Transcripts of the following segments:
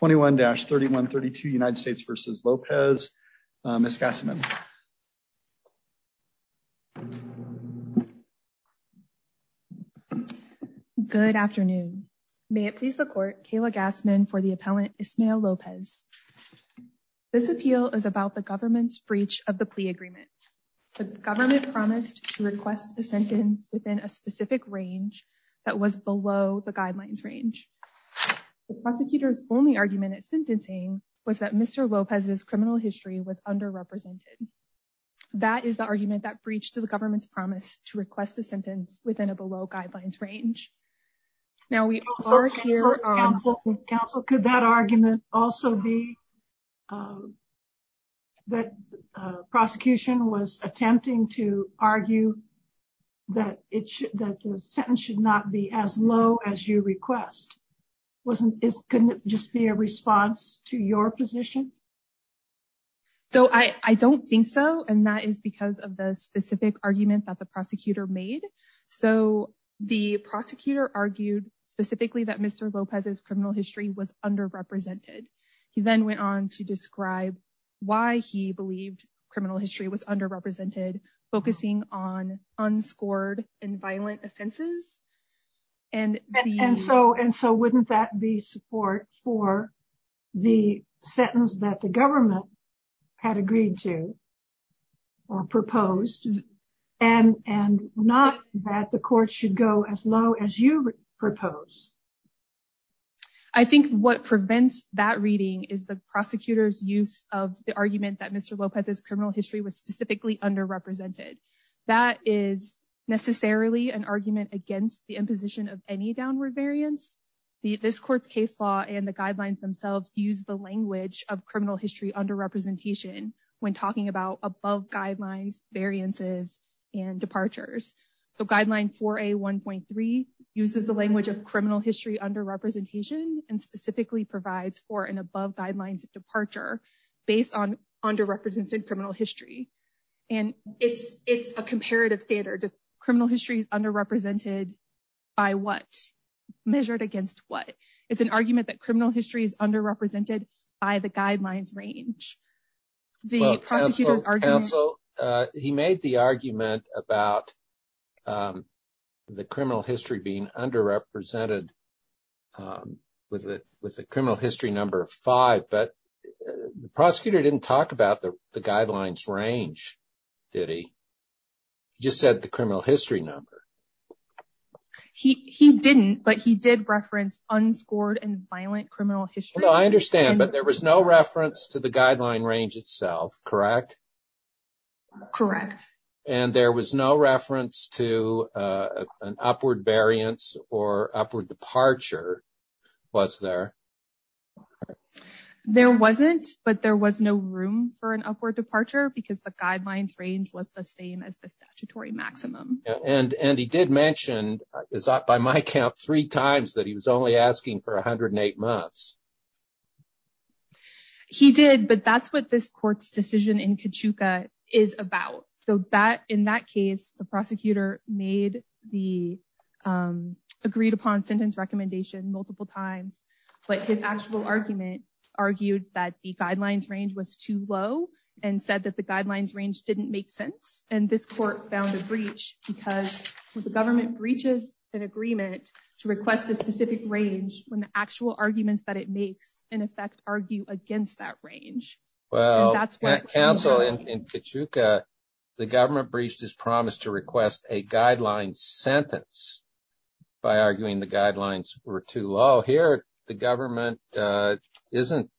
21-3132 United States v. Lopez. Ms. Gassman. Good afternoon. May it please the court, Kayla Gassman for the appellant Ismael Lopez. This appeal is about the government's breach of the plea agreement. The government promised to request a sentence within a specific range that was below the guidelines range. The prosecutor's only argument at sentencing was that Mr. Lopez's criminal history was underrepresented. That is the argument that breached the government's promise to request a sentence within a below guidelines range. Now, we are here. Counsel, could that argument also be that prosecution was attempting to argue that it should that the sentence should not be as low as you request? Wasn't it couldn't just be a response to your position? So I don't think so. And that is because of the specific argument that the prosecutor made. So the prosecutor argued specifically that Mr. Lopez's criminal history was underrepresented. He then went on to describe why he believed criminal history was underrepresented, focusing on unscored and violent offenses. And so and so wouldn't that be support for the sentence that the government had agreed to or proposed and and not that the court should go as low as you propose? I think what prevents that reading is the prosecutor's use of the argument that Mr. Lopez's criminal history was specifically underrepresented. That is necessarily an argument against the imposition of any downward variance. This court's case law and the guidelines themselves use the language of criminal history underrepresentation when talking about above guidelines, variances and departures. So guideline for a one point three uses the language of criminal history underrepresentation and specifically provides for an above guidelines departure based on underrepresented criminal history. And it's it's a comparative standard. Criminal history is underrepresented by what measured against what? It's an argument that criminal history is underrepresented by the guidelines range. He made the argument about the criminal history being underrepresented with it, with the criminal history number five. But the prosecutor didn't talk about the guidelines range, did he? Just said the criminal history number he he didn't, but he did reference unscored and violent criminal history. I understand, but there was no reference to the guideline range itself, correct? Correct. And there was no reference to an upward variance or upward departure, was there? There wasn't, but there was no room for an upward departure because the guidelines range was the same as the statutory maximum. And he did mention by my count three times that he was only asking for one hundred and eight months. He did, but that's what this court's decision in Kachuka is about. So that in that case, the prosecutor made the agreed upon sentence recommendation multiple times. But his actual argument argued that the guidelines range was too low and said that the guidelines range didn't make sense. And this court found a breach because the government breaches an agreement to request a specific range when the actual arguments that it makes in effect argue against that range. Well, that's what counsel in Kachuka, the government breached his promise to request a guideline sentence by arguing the guidelines were too low here. The government isn't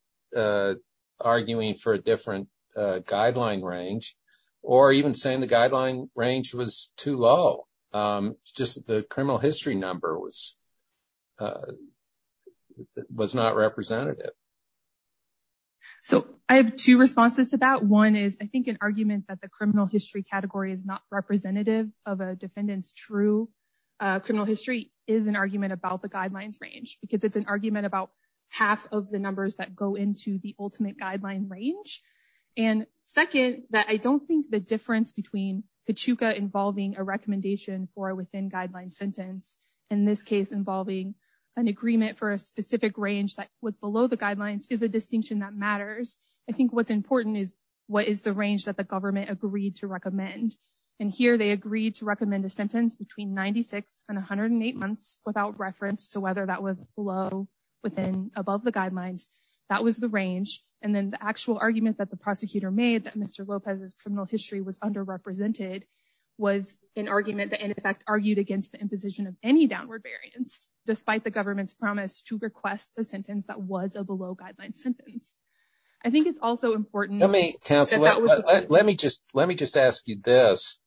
arguing for a different guideline range or even saying the guideline range was too low. Just the criminal history number was was not representative. So I have two responses to that. One is, I think, an argument that the criminal history category is not representative of a defendant's true criminal history is an argument about the guidelines range, because it's an argument about half of the numbers that go into the ultimate guideline range. And second, that I don't think the difference between Kachuka involving a recommendation for a within guideline sentence, in this case, involving an agreement for a specific range that was below the guidelines is a distinction that matters. I think what's important is what is the range that the government agreed to recommend? And here they agreed to recommend a sentence between 96 and 108 months without reference to whether that was below within above the guidelines. That was the range. And then the actual argument that the prosecutor made that Mr. Lopez's criminal history was underrepresented was an argument that in effect argued against the imposition of any downward variance, despite the government's promise to request a sentence that was a below guideline sentence. I think it's also important. Let me cancel. Let me just let me just ask you this.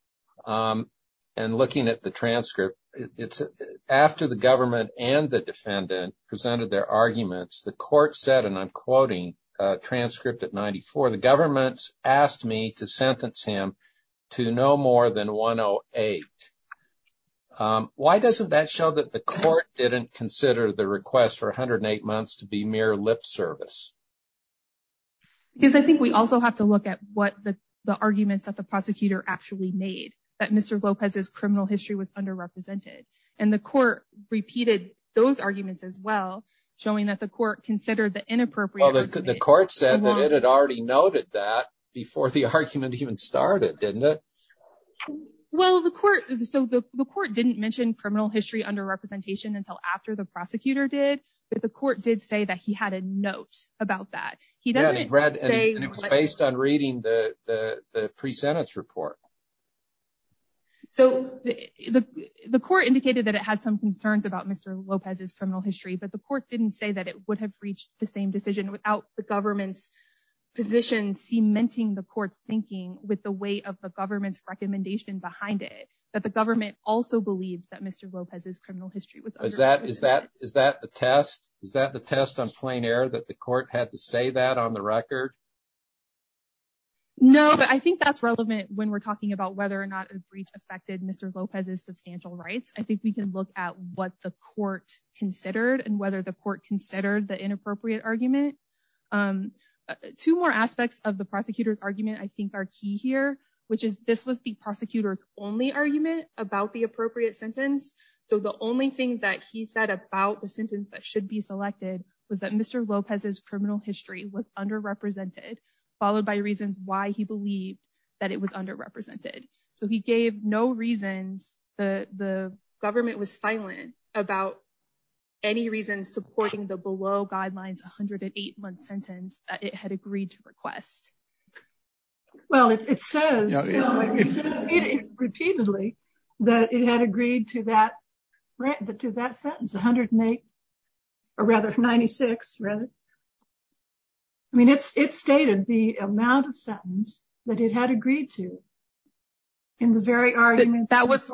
And looking at the transcript, it's after the government and the defendant presented their arguments, the court said, and I'm quoting transcript at 94, the government's asked me to sentence him to no more than 108. Why doesn't that show that the court didn't consider the request for 108 months to be mere lip service? Because I think we also have to look at what the arguments that the prosecutor actually made that Mr. Lopez's criminal history was underrepresented. And the court repeated those arguments as well, showing that the court considered the inappropriate. The court said that it had already noted that before the argument even started, didn't it? Well, the court so the court didn't mention criminal history under representation until after the prosecutor did. But the court did say that he had a note about that. He doesn't read and it was based on reading the pre-sentence report. So the court indicated that it had some concerns about Mr. Lopez's criminal history, but the court didn't say that it would have reached the same decision without the government's position, cementing the court's thinking with the weight of the government's recommendation behind it. But the government also believed that Mr. Lopez's criminal history was that is that is that the test? Is that the test on plain air that the court had to say that on the record? No, I think that's relevant when we're talking about whether or not a breach affected Mr. Lopez's substantial rights. I think we can look at what the court considered and whether the court considered the inappropriate argument. Two more aspects of the prosecutor's argument, I think, are key here, which is this was the prosecutor's only argument about the appropriate sentence. So the only thing that he said about the sentence that should be selected was that Mr. Lopez's criminal history was underrepresented, followed by reasons why he believed that it was underrepresented. So he gave no reasons. The government was silent about any reason supporting the below guidelines 108 month sentence that it had agreed to request. Well, it says repeatedly that it had agreed to that to that sentence, 108 or rather 96. I mean, it's it's stated the amount of sentence that it had agreed to. In the very argument that was.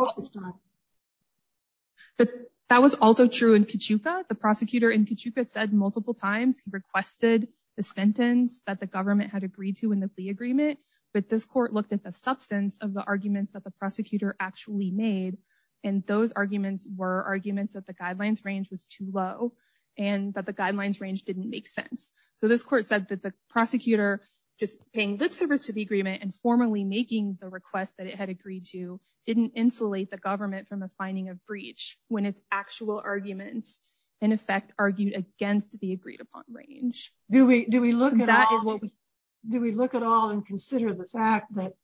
That was also true in Cachuca, the prosecutor in Cachuca said multiple times he requested the sentence that the government had agreed to in the plea agreement. But this court looked at the substance of the arguments that the prosecutor actually made. And those arguments were arguments that the guidelines range was too low and that the guidelines range didn't make sense. So this court said that the prosecutor just paying lip service to the agreement and formally making the request that it had agreed to didn't insulate the government from a finding of breach when its actual arguments, in effect, argued against the agreed upon range. Do we do we look at that? Do we look at all and consider the fact that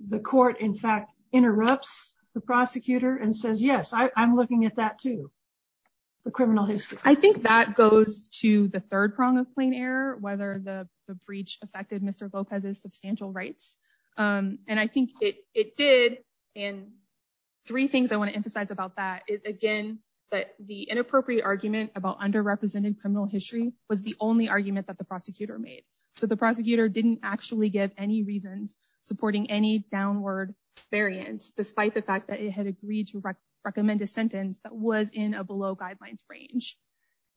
the court, in fact, interrupts the prosecutor and says, yes, I'm looking at that, too. I think that goes to the third prong of plain error, whether the breach affected Mr. Lopez's substantial rights. And I think it did. And three things I want to emphasize about that is, again, that the inappropriate argument about underrepresented criminal history was the only argument that the prosecutor made. So the prosecutor didn't actually give any reasons supporting any downward variance, despite the fact that it had agreed to recommend a sentence that was in a below guidelines range.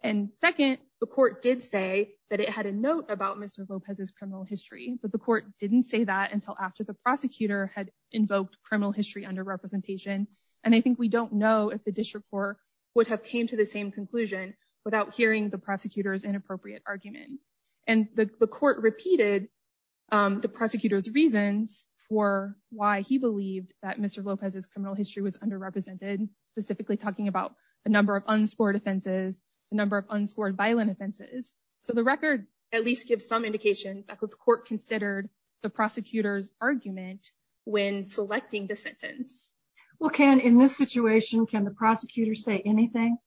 And second, the court did say that it had a note about Mr. Lopez's criminal history, but the court didn't say that until after the prosecutor had invoked criminal history under representation. And I think we don't know if the district court would have came to the same conclusion without hearing the prosecutor's inappropriate argument. And the court repeated the prosecutor's reasons for why he believed that Mr. Lopez's criminal history was underrepresented, specifically talking about a number of unscored offenses, a number of unscored violent offenses. So the record at least gives some indication that the court considered the prosecutor's argument when selecting the sentence. Well, Ken, in this situation, can the prosecutor say anything?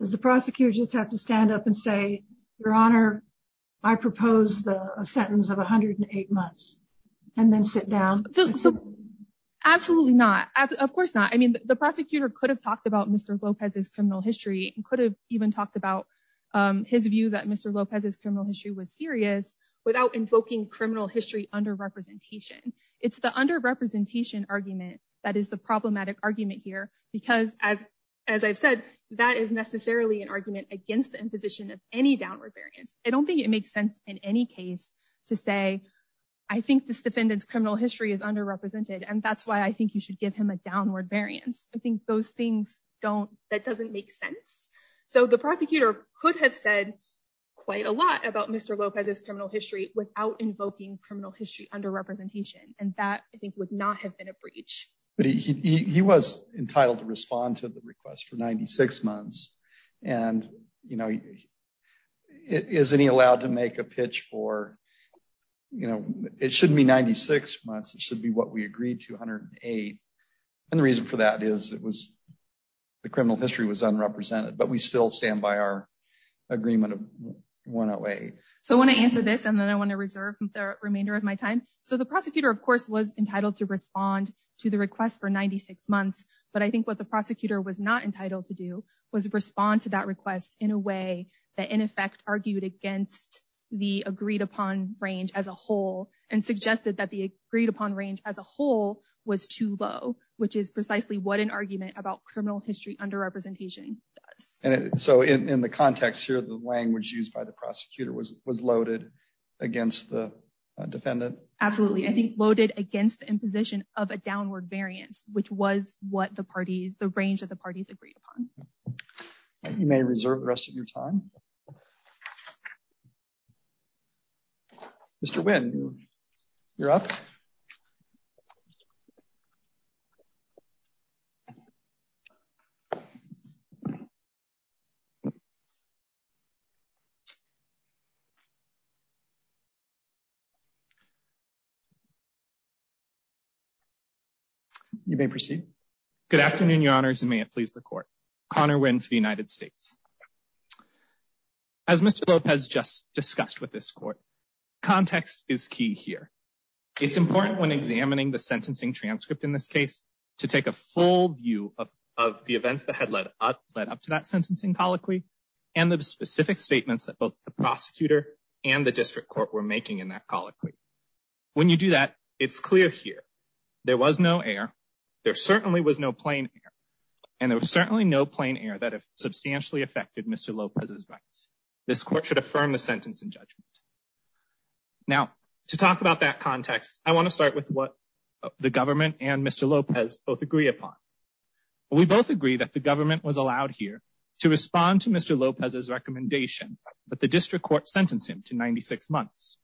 Does the prosecutor just have to stand up and say, Your Honor, I propose the sentence of one hundred and eight months and then sit down? Absolutely not. Of course not. I mean, the prosecutor could have talked about Mr. Lopez's criminal history and could have even talked about his view that Mr. Lopez's criminal history was serious without invoking criminal history under representation. It's the underrepresentation argument that is the problematic argument here, because as as I've said, that is necessarily an argument against the imposition of any downward variance. I don't think it makes sense in any case to say, I think this defendant's criminal history is underrepresented and that's why I think you should give him a downward variance. I think those things don't that doesn't make sense. So the prosecutor could have said quite a lot about Mr. Lopez's criminal history without invoking criminal history under representation. And that, I think, would not have been a breach. But he was entitled to respond to the request for ninety six months. And, you know, isn't he allowed to make a pitch for, you know, it shouldn't be ninety six months. It should be what we agreed to hundred eight. And the reason for that is it was the criminal history was unrepresented, but we still stand by our agreement of one away. So I want to answer this and then I want to reserve the remainder of my time. So the prosecutor, of course, was entitled to respond to the request for ninety six months. But I think what the prosecutor was not entitled to do was respond to that request in a way that in effect argued against the agreed upon range as a whole and suggested that the agreed upon range as a whole was too low, which is precisely what an argument about criminal history under representation. So in the context here, the language used by the prosecutor was was loaded against the defendant. Absolutely. I think loaded against the imposition of a downward variance, which was what the parties, the range of the parties agreed upon. You may reserve the rest of your time. Mr. Wynn, you're up. You may proceed. Good afternoon, Your Honors, and may it please the court. Connor Wynn for the United States. As Mr. Lopez just discussed with this court, context is key here. It's important when examining the sentencing transcript in this case to take a full view of of the events that had led up to that sentencing colloquy and the specific statements that both the prosecutor and the district court were making in that colloquy. When you do that, it's clear here there was no air. There certainly was no plain air, and there was certainly no plain air that have substantially affected Mr. Lopez's rights. This court should affirm the sentence in judgment. Now, to talk about that context, I want to start with what the government and Mr. Lopez both agree upon. We both agree that the government was allowed here to respond to Mr. Lopez's recommendation, but the district court sentenced him to 96 months.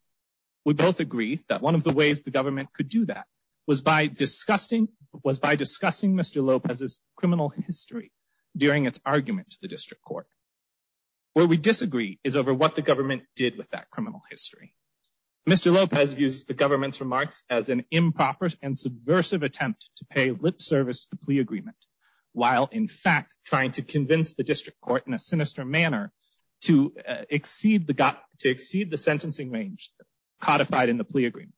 We both agree that one of the ways the government could do that was by discussing was by discussing Mr. Lopez's criminal history during its argument to the district court. Where we disagree is over what the government did with that criminal history. Mr. Lopez used the government's remarks as an improper and subversive attempt to pay lip service to the plea agreement, while in fact trying to convince the district court in a sinister manner to exceed the got to exceed the sentencing range codified in the plea agreement.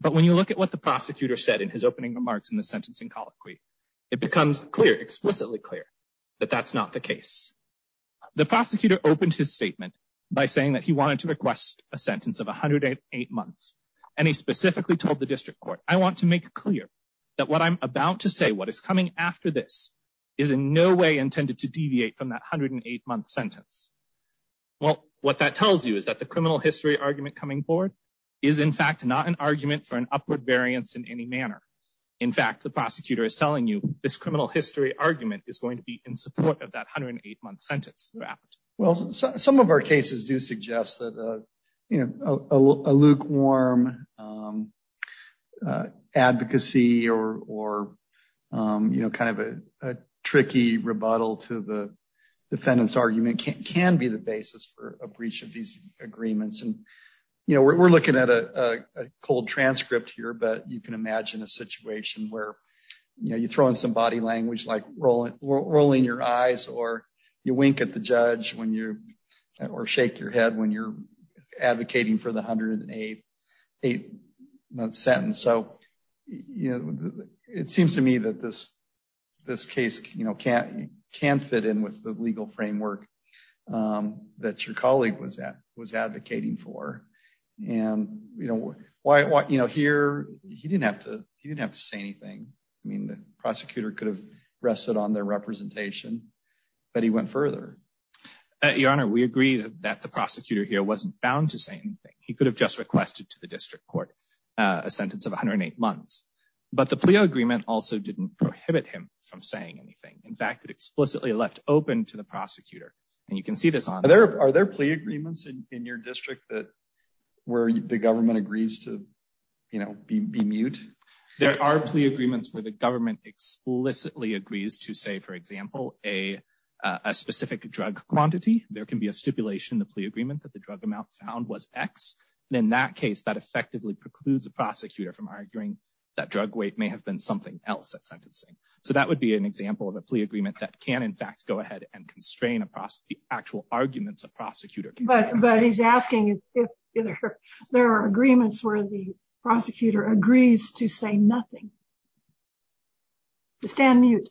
But when you look at what the prosecutor said in his opening remarks in the sentencing colloquy, it becomes clear explicitly clear that that's not the case. The prosecutor opened his statement by saying that he wanted to request a sentence of 108 months. And he specifically told the district court, I want to make clear that what I'm about to say what is coming after this is in no way intended to deviate from that 108 month sentence. Well, what that tells you is that the criminal history argument coming forward is in fact not an argument for an upward variance in any manner. In fact, the prosecutor is telling you this criminal history argument is going to be in support of that 108 month sentence. Well, some of our cases do suggest that, you know, a lukewarm advocacy or, you know, kind of a tricky rebuttal to the defendants argument can be the basis for a breach of these agreements and, you know, we're looking at a cold transcript here but you can imagine a situation where, you know, you throw in some body language like rolling rolling your eyes or you wink at the judge. When you're or shake your head when you're advocating for the 108 month sentence. So, you know, it seems to me that this, this case, you know, can't can't fit in with the legal framework that your colleague was that was advocating for. And, you know, why, you know, here, he didn't have to, he didn't have to say anything. I mean the prosecutor could have rested on their representation, but he went further. Your Honor, we agree that the prosecutor here wasn't bound to say anything, he could have just requested to the district court, a sentence of 108 months, but the plea agreement also didn't prohibit him from saying anything. In fact it explicitly left open to the prosecutor. And you can see this on there, are there plea agreements in your district that were the government agrees to, you know, be mute. There are plea agreements where the government explicitly agrees to say for example, a specific drug quantity, there can be a stipulation the plea agreement that the drug amount found was x. And in that case that effectively precludes a prosecutor from arguing that drug weight may have been something else that sentencing. So that would be an example of a plea agreement that can in fact go ahead and constrain across the actual arguments of prosecutor. But, but he's asking if there are agreements where the prosecutor agrees to say nothing. Stand mute.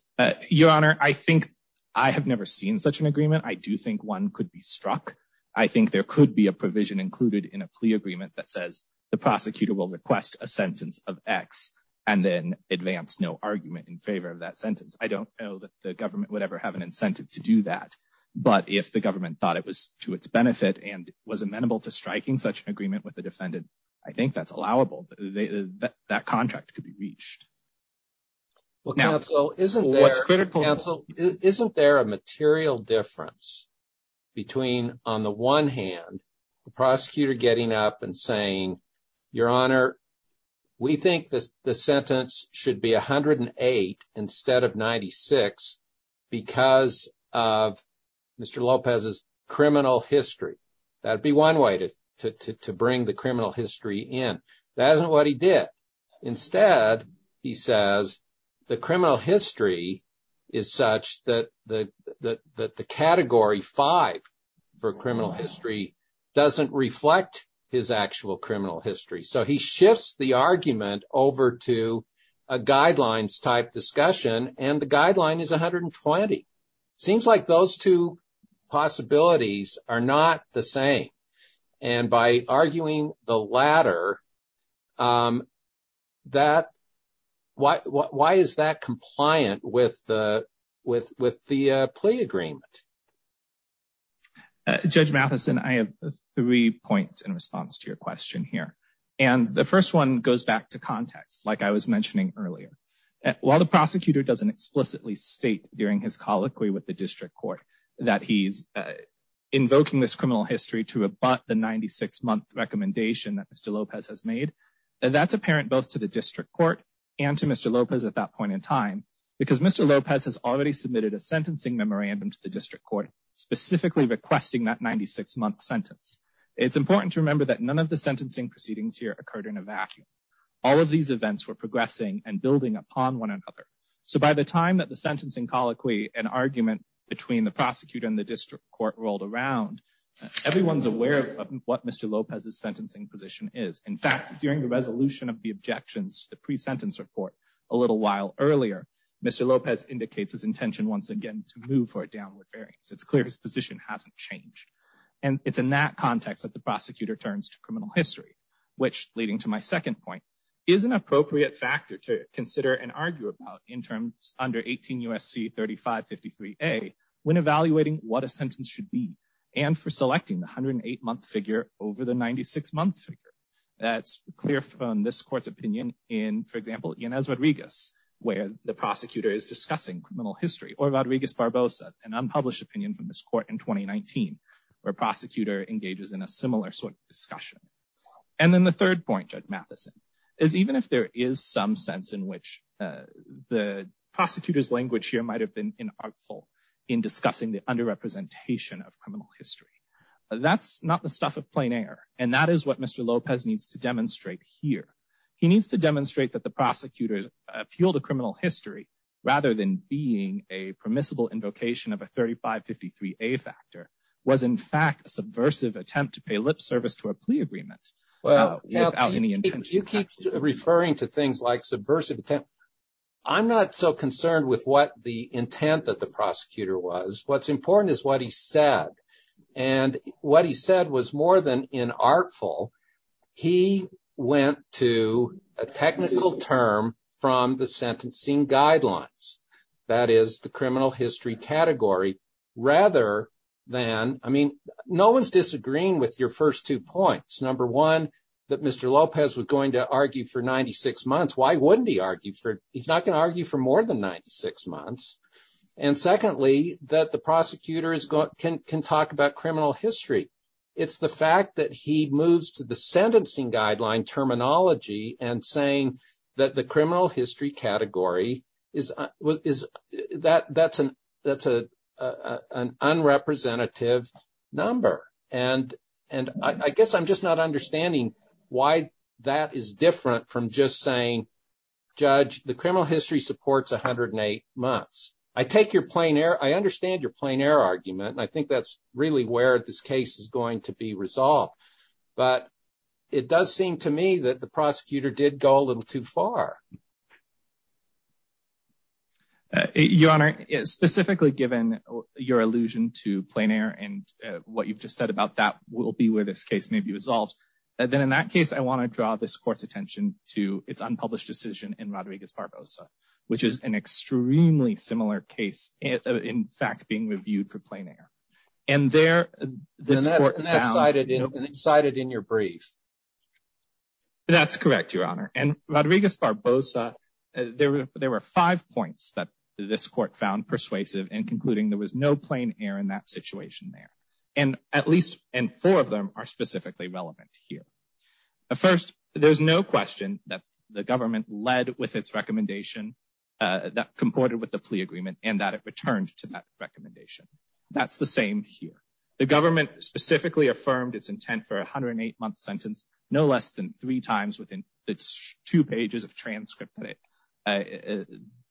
Your Honor, I think I have never seen such an agreement I do think one could be struck. I think there could be a provision included in a plea agreement that says the prosecutor will request a sentence of x, and then advance no argument in favor of that sentence. I don't know that the government would ever have an incentive to do that. But if the government thought it was to its benefit and was amenable to striking such an agreement with the defendant. I think that's allowable. That contract could be reached. Isn't there a material difference between on the one hand, the prosecutor getting up and saying, Your Honor, we think this sentence should be 108 instead of 96 because of Mr. Lopez's criminal history. That'd be one way to bring the criminal history in. That isn't what he did. Instead, he says the criminal history is such that the category five for criminal history doesn't reflect his actual criminal history. So he shifts the argument over to a guidelines type discussion. And the guideline is 120. Seems like those two possibilities are not the same. And by arguing the latter, that why is that compliant with the with with the plea agreement? Judge Matheson, I have three points in response to your question here. And the first one goes back to context, like I was mentioning earlier, while the prosecutor doesn't explicitly state during his colloquy with the district court that he's invoking this criminal history to abut the 96 month recommendation that Mr. Lopez has made. And that's apparent both to the district court and to Mr. Lopez at that point in time, because Mr. Lopez has already submitted a sentencing memorandum to the district court specifically requesting that 96 month sentence. It's important to remember that none of the sentencing proceedings here occurred in a vacuum. All of these events were progressing and building upon one another. So by the time that the sentencing colloquy, an argument between the prosecutor and the district court rolled around, everyone's aware of what Mr. Lopez's sentencing position is. In fact, during the resolution of the objections, the pre-sentence report, a little while earlier, Mr. Lopez indicates his intention once again to move for a downward variance. It's clear his position hasn't changed. And it's in that context that the prosecutor turns to criminal history, which, leading to my second point, is an appropriate factor to consider and argue about in terms under 18 U.S.C. 3553A when evaluating what a sentence should be and for selecting the 108 month figure over the 96 month figure. That's clear from this court's opinion in, for example, Yanez Rodriguez, where the prosecutor is discussing criminal history, or Rodriguez Barbosa, an unpublished opinion from this court in 2019, where a prosecutor engages in a similar sort of discussion. And then the third point, Judge Mathison, is even if there is some sense in which the prosecutor's language here might have been inartful in discussing the underrepresentation of criminal history, that's not the stuff of plain air. And that is what Mr. Lopez needs to demonstrate here. He needs to demonstrate that the prosecutor's appeal to criminal history, rather than being a permissible invocation of a 3553A factor, was in fact a subversive attempt to pay lip service to a plea agreement. Well, you keep referring to things like subversive attempt. I'm not so concerned with what the intent that the prosecutor was. What's important is what he said. And what he said was more than inartful. He went to a technical term from the sentencing guidelines, that is the criminal history category, rather than, I mean, no one's disagreeing with your first two points. Number one, that Mr. Lopez was going to argue for 96 months. Why wouldn't he argue for, he's not going to argue for more than 96 months. And secondly, that the prosecutor can talk about criminal history. It's the fact that he moves to the sentencing guideline terminology and saying that the criminal history category, that's an unrepresentative number. And I guess I'm just not understanding why that is different from just saying, judge, the criminal history supports 108 months. I take your plain error. I understand your plain error argument. And I think that's really where this case is going to be resolved. But it does seem to me that the prosecutor did go a little too far. Your Honor, specifically given your allusion to plain air and what you've just said about that will be where this case may be resolved. And then in that case, I want to draw this court's attention to its unpublished decision in Rodriguez Barbosa, which is an extremely similar case. In fact, being reviewed for plain air. And there, this court found... And that's cited in your brief. That's correct, Your Honor. And Rodriguez Barbosa, there were five points that this court found persuasive in concluding there was no plain air in that situation there. And at least four of them are specifically relevant here. First, there's no question that the government led with its recommendation that comported with the plea agreement and that it returned to that recommendation. That's the same here. The government specifically affirmed its intent for a 108-month sentence no less than three times within its two pages of transcript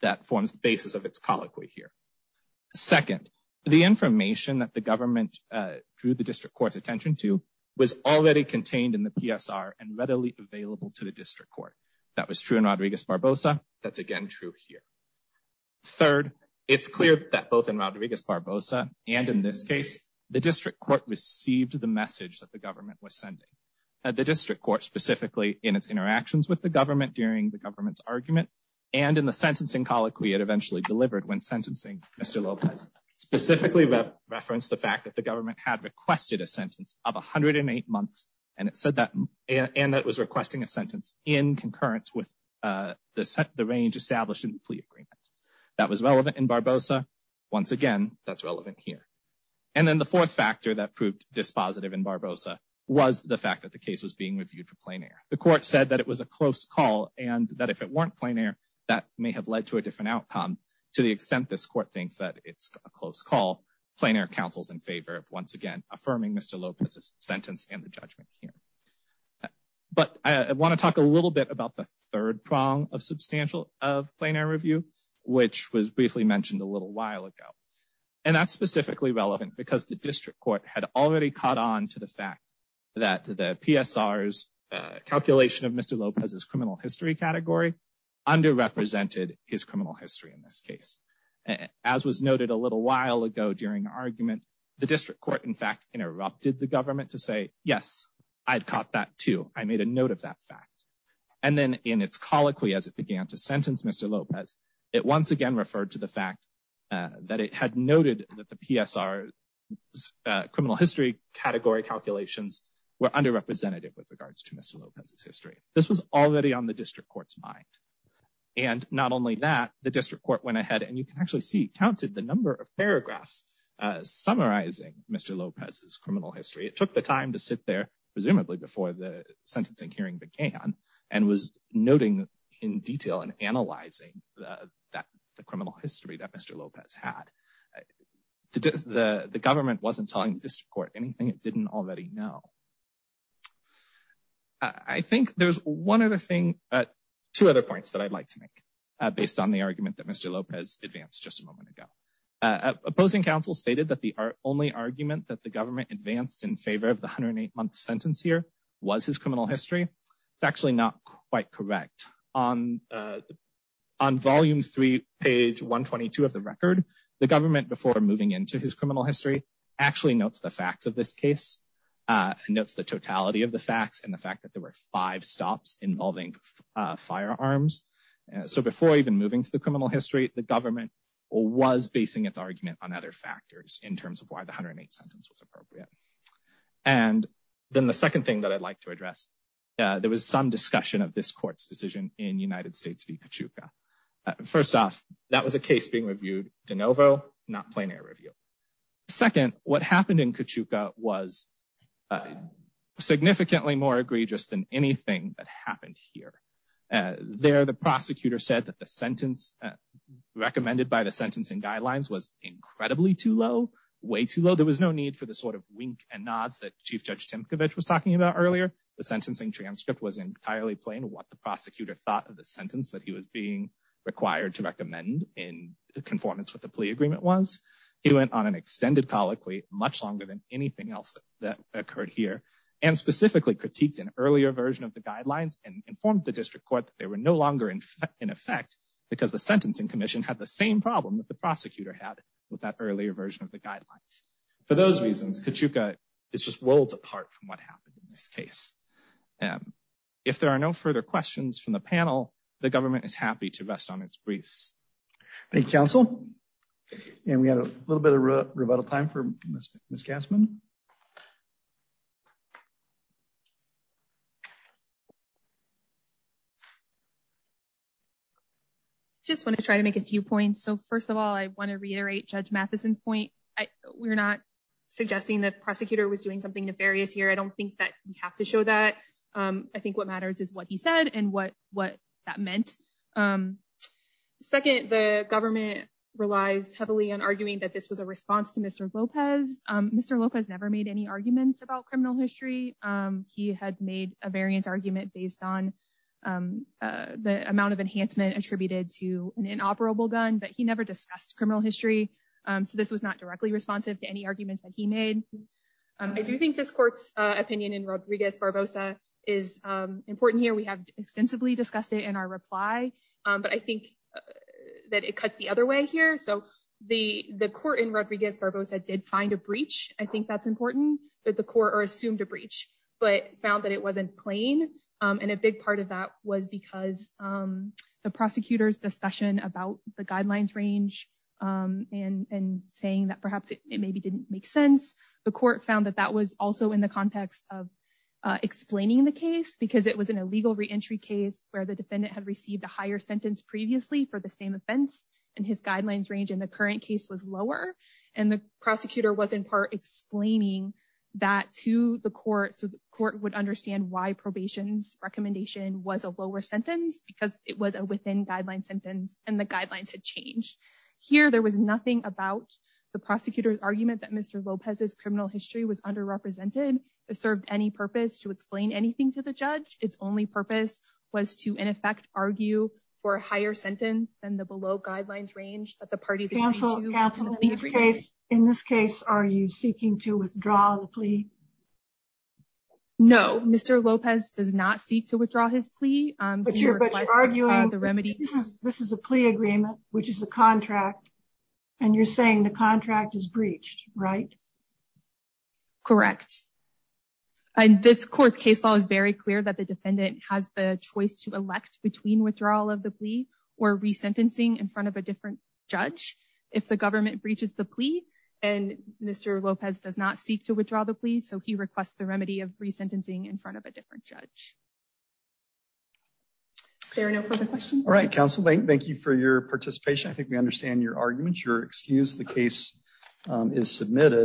that forms the basis of its colloquy here. Second, the information that the government drew the district court's attention to was already contained in the PSR and readily available to the district court. That was true in Rodriguez Barbosa. That's again true here. Third, it's clear that both in Rodriguez Barbosa and in this case, the district court received the message that the government was sending. The district court specifically in its interactions with the government during the government's argument and in the sentencing colloquy it eventually delivered when sentencing Mr. Lopez specifically referenced the fact that the government had requested a sentence of 108 months. And it said that and that was requesting a sentence in concurrence with the range established in the plea agreement. That was relevant in Barbosa. Once again, that's relevant here. And then the fourth factor that proved dispositive in Barbosa was the fact that the case was being reviewed for plain air. The court said that it was a close call and that if it weren't plain air, that may have led to a different outcome to the extent this court thinks that it's a close call. Plain air counsels in favor of once again affirming Mr. Lopez's sentence and the judgment here. But I want to talk a little bit about the third prong of substantial of plain air review, which was briefly mentioned a little while ago. And that's specifically relevant because the district court had already caught on to the fact that the PSR's calculation of Mr. Lopez's criminal history category underrepresented his criminal history in this case. As was noted a little while ago during argument, the district court, in fact, interrupted the government to say, yes, I'd caught that, too. I made a note of that fact. And then in its colloquy, as it began to sentence Mr. Lopez, it once again referred to the fact that it had noted that the PSR's criminal history category calculations were underrepresented with regards to Mr. Lopez's history. This was already on the district court's mind. And not only that, the district court went ahead and you can actually see counted the number of paragraphs summarizing Mr. Lopez's criminal history. It took the time to sit there, presumably before the sentencing hearing began, and was noting in detail and analyzing the criminal history that Mr. Lopez had. The government wasn't telling the district court anything it didn't already know. I think there's one other thing, two other points that I'd like to make based on the argument that Mr. Lopez advanced just a moment ago. Opposing counsel stated that the only argument that the government advanced in favor of the 108-month sentence here was his criminal history. It's actually not quite correct. On volume three, page 122 of the record, the government, before moving into his criminal history, actually notes the facts of this case. It notes the totality of the facts and the fact that there were five stops involving firearms. So before even moving to the criminal history, the government was basing its argument on other factors in terms of why the 108-sentence was appropriate. And then the second thing that I'd like to address, there was some discussion of this court's decision in United States v. Kachuka. First off, that was a case being reviewed de novo, not plein air review. Second, what happened in Kachuka was significantly more egregious than anything that happened here. There, the prosecutor said that the sentence recommended by the sentencing guidelines was incredibly too low, way too low. There was no need for the sort of wink and nods that Chief Judge Timkovich was talking about earlier. The sentencing transcript was entirely plain what the prosecutor thought of the sentence that he was being required to recommend in conformance with the plea agreement was. He went on an extended colloquy, much longer than anything else that occurred here, and specifically critiqued an earlier version of the guidelines and informed the district court that they were no longer in effect because the sentencing commission had the same problem that the prosecutor had with that earlier version of the guidelines. For those reasons, Kachuka is just worlds apart from what happened in this case. If there are no further questions from the panel, the government is happy to rest on its briefs. Thank you, counsel. And we had a little bit of rebuttal time for Miss Gassman. Just want to try to make a few points. So first of all, I want to reiterate Judge Matheson's point. We're not suggesting that the prosecutor was doing something nefarious here. I don't think that we have to show that. I think what matters is what he said and what that meant. Second, the government relies heavily on arguing that this was a response to Mr. Lopez. Mr. Lopez never made any arguments about criminal history. He had made a variance argument based on the amount of enhancement attributed to an inoperable gun, but he never discussed criminal history. So this was not directly responsive to any arguments that he made. I do think this court's opinion in Rodriguez-Barbosa is important here. We have extensively discussed it in our reply, but I think that it cuts the other way here. So the court in Rodriguez-Barbosa did find a breach. I think that's important that the court assumed a breach, but found that it wasn't plain. And a big part of that was because the prosecutor's discussion about the guidelines range and saying that perhaps it maybe didn't make sense. The court found that that was also in the context of explaining the case because it was an illegal reentry case where the defendant had received a higher sentence previously for the same offense. And his guidelines range in the current case was lower. And the prosecutor was, in part, explaining that to the court so the court would understand why probation's recommendation was a lower sentence because it was a within guideline sentence and the guidelines had changed. Here, there was nothing about the prosecutor's argument that Mr. Lopez's criminal history was underrepresented. It served any purpose to explain anything to the judge. Its only purpose was to, in effect, argue for a higher sentence than the below guidelines range that the parties agreed to. Counsel, in this case, are you seeking to withdraw the plea? No, Mr. Lopez does not seek to withdraw his plea. But you're arguing this is a plea agreement, which is a contract, and you're saying the contract is breached, right? Correct. And this court's case law is very clear that the defendant has the choice to elect between withdrawal of the plea or resentencing in front of a different judge. If the government breaches the plea, and Mr. Lopez does not seek to withdraw the plea, so he requests the remedy of resentencing in front of a different judge. Are there no further questions? All right, Counsel Lange, thank you for your participation. I think we understand your arguments. You're excused. The case is submitted.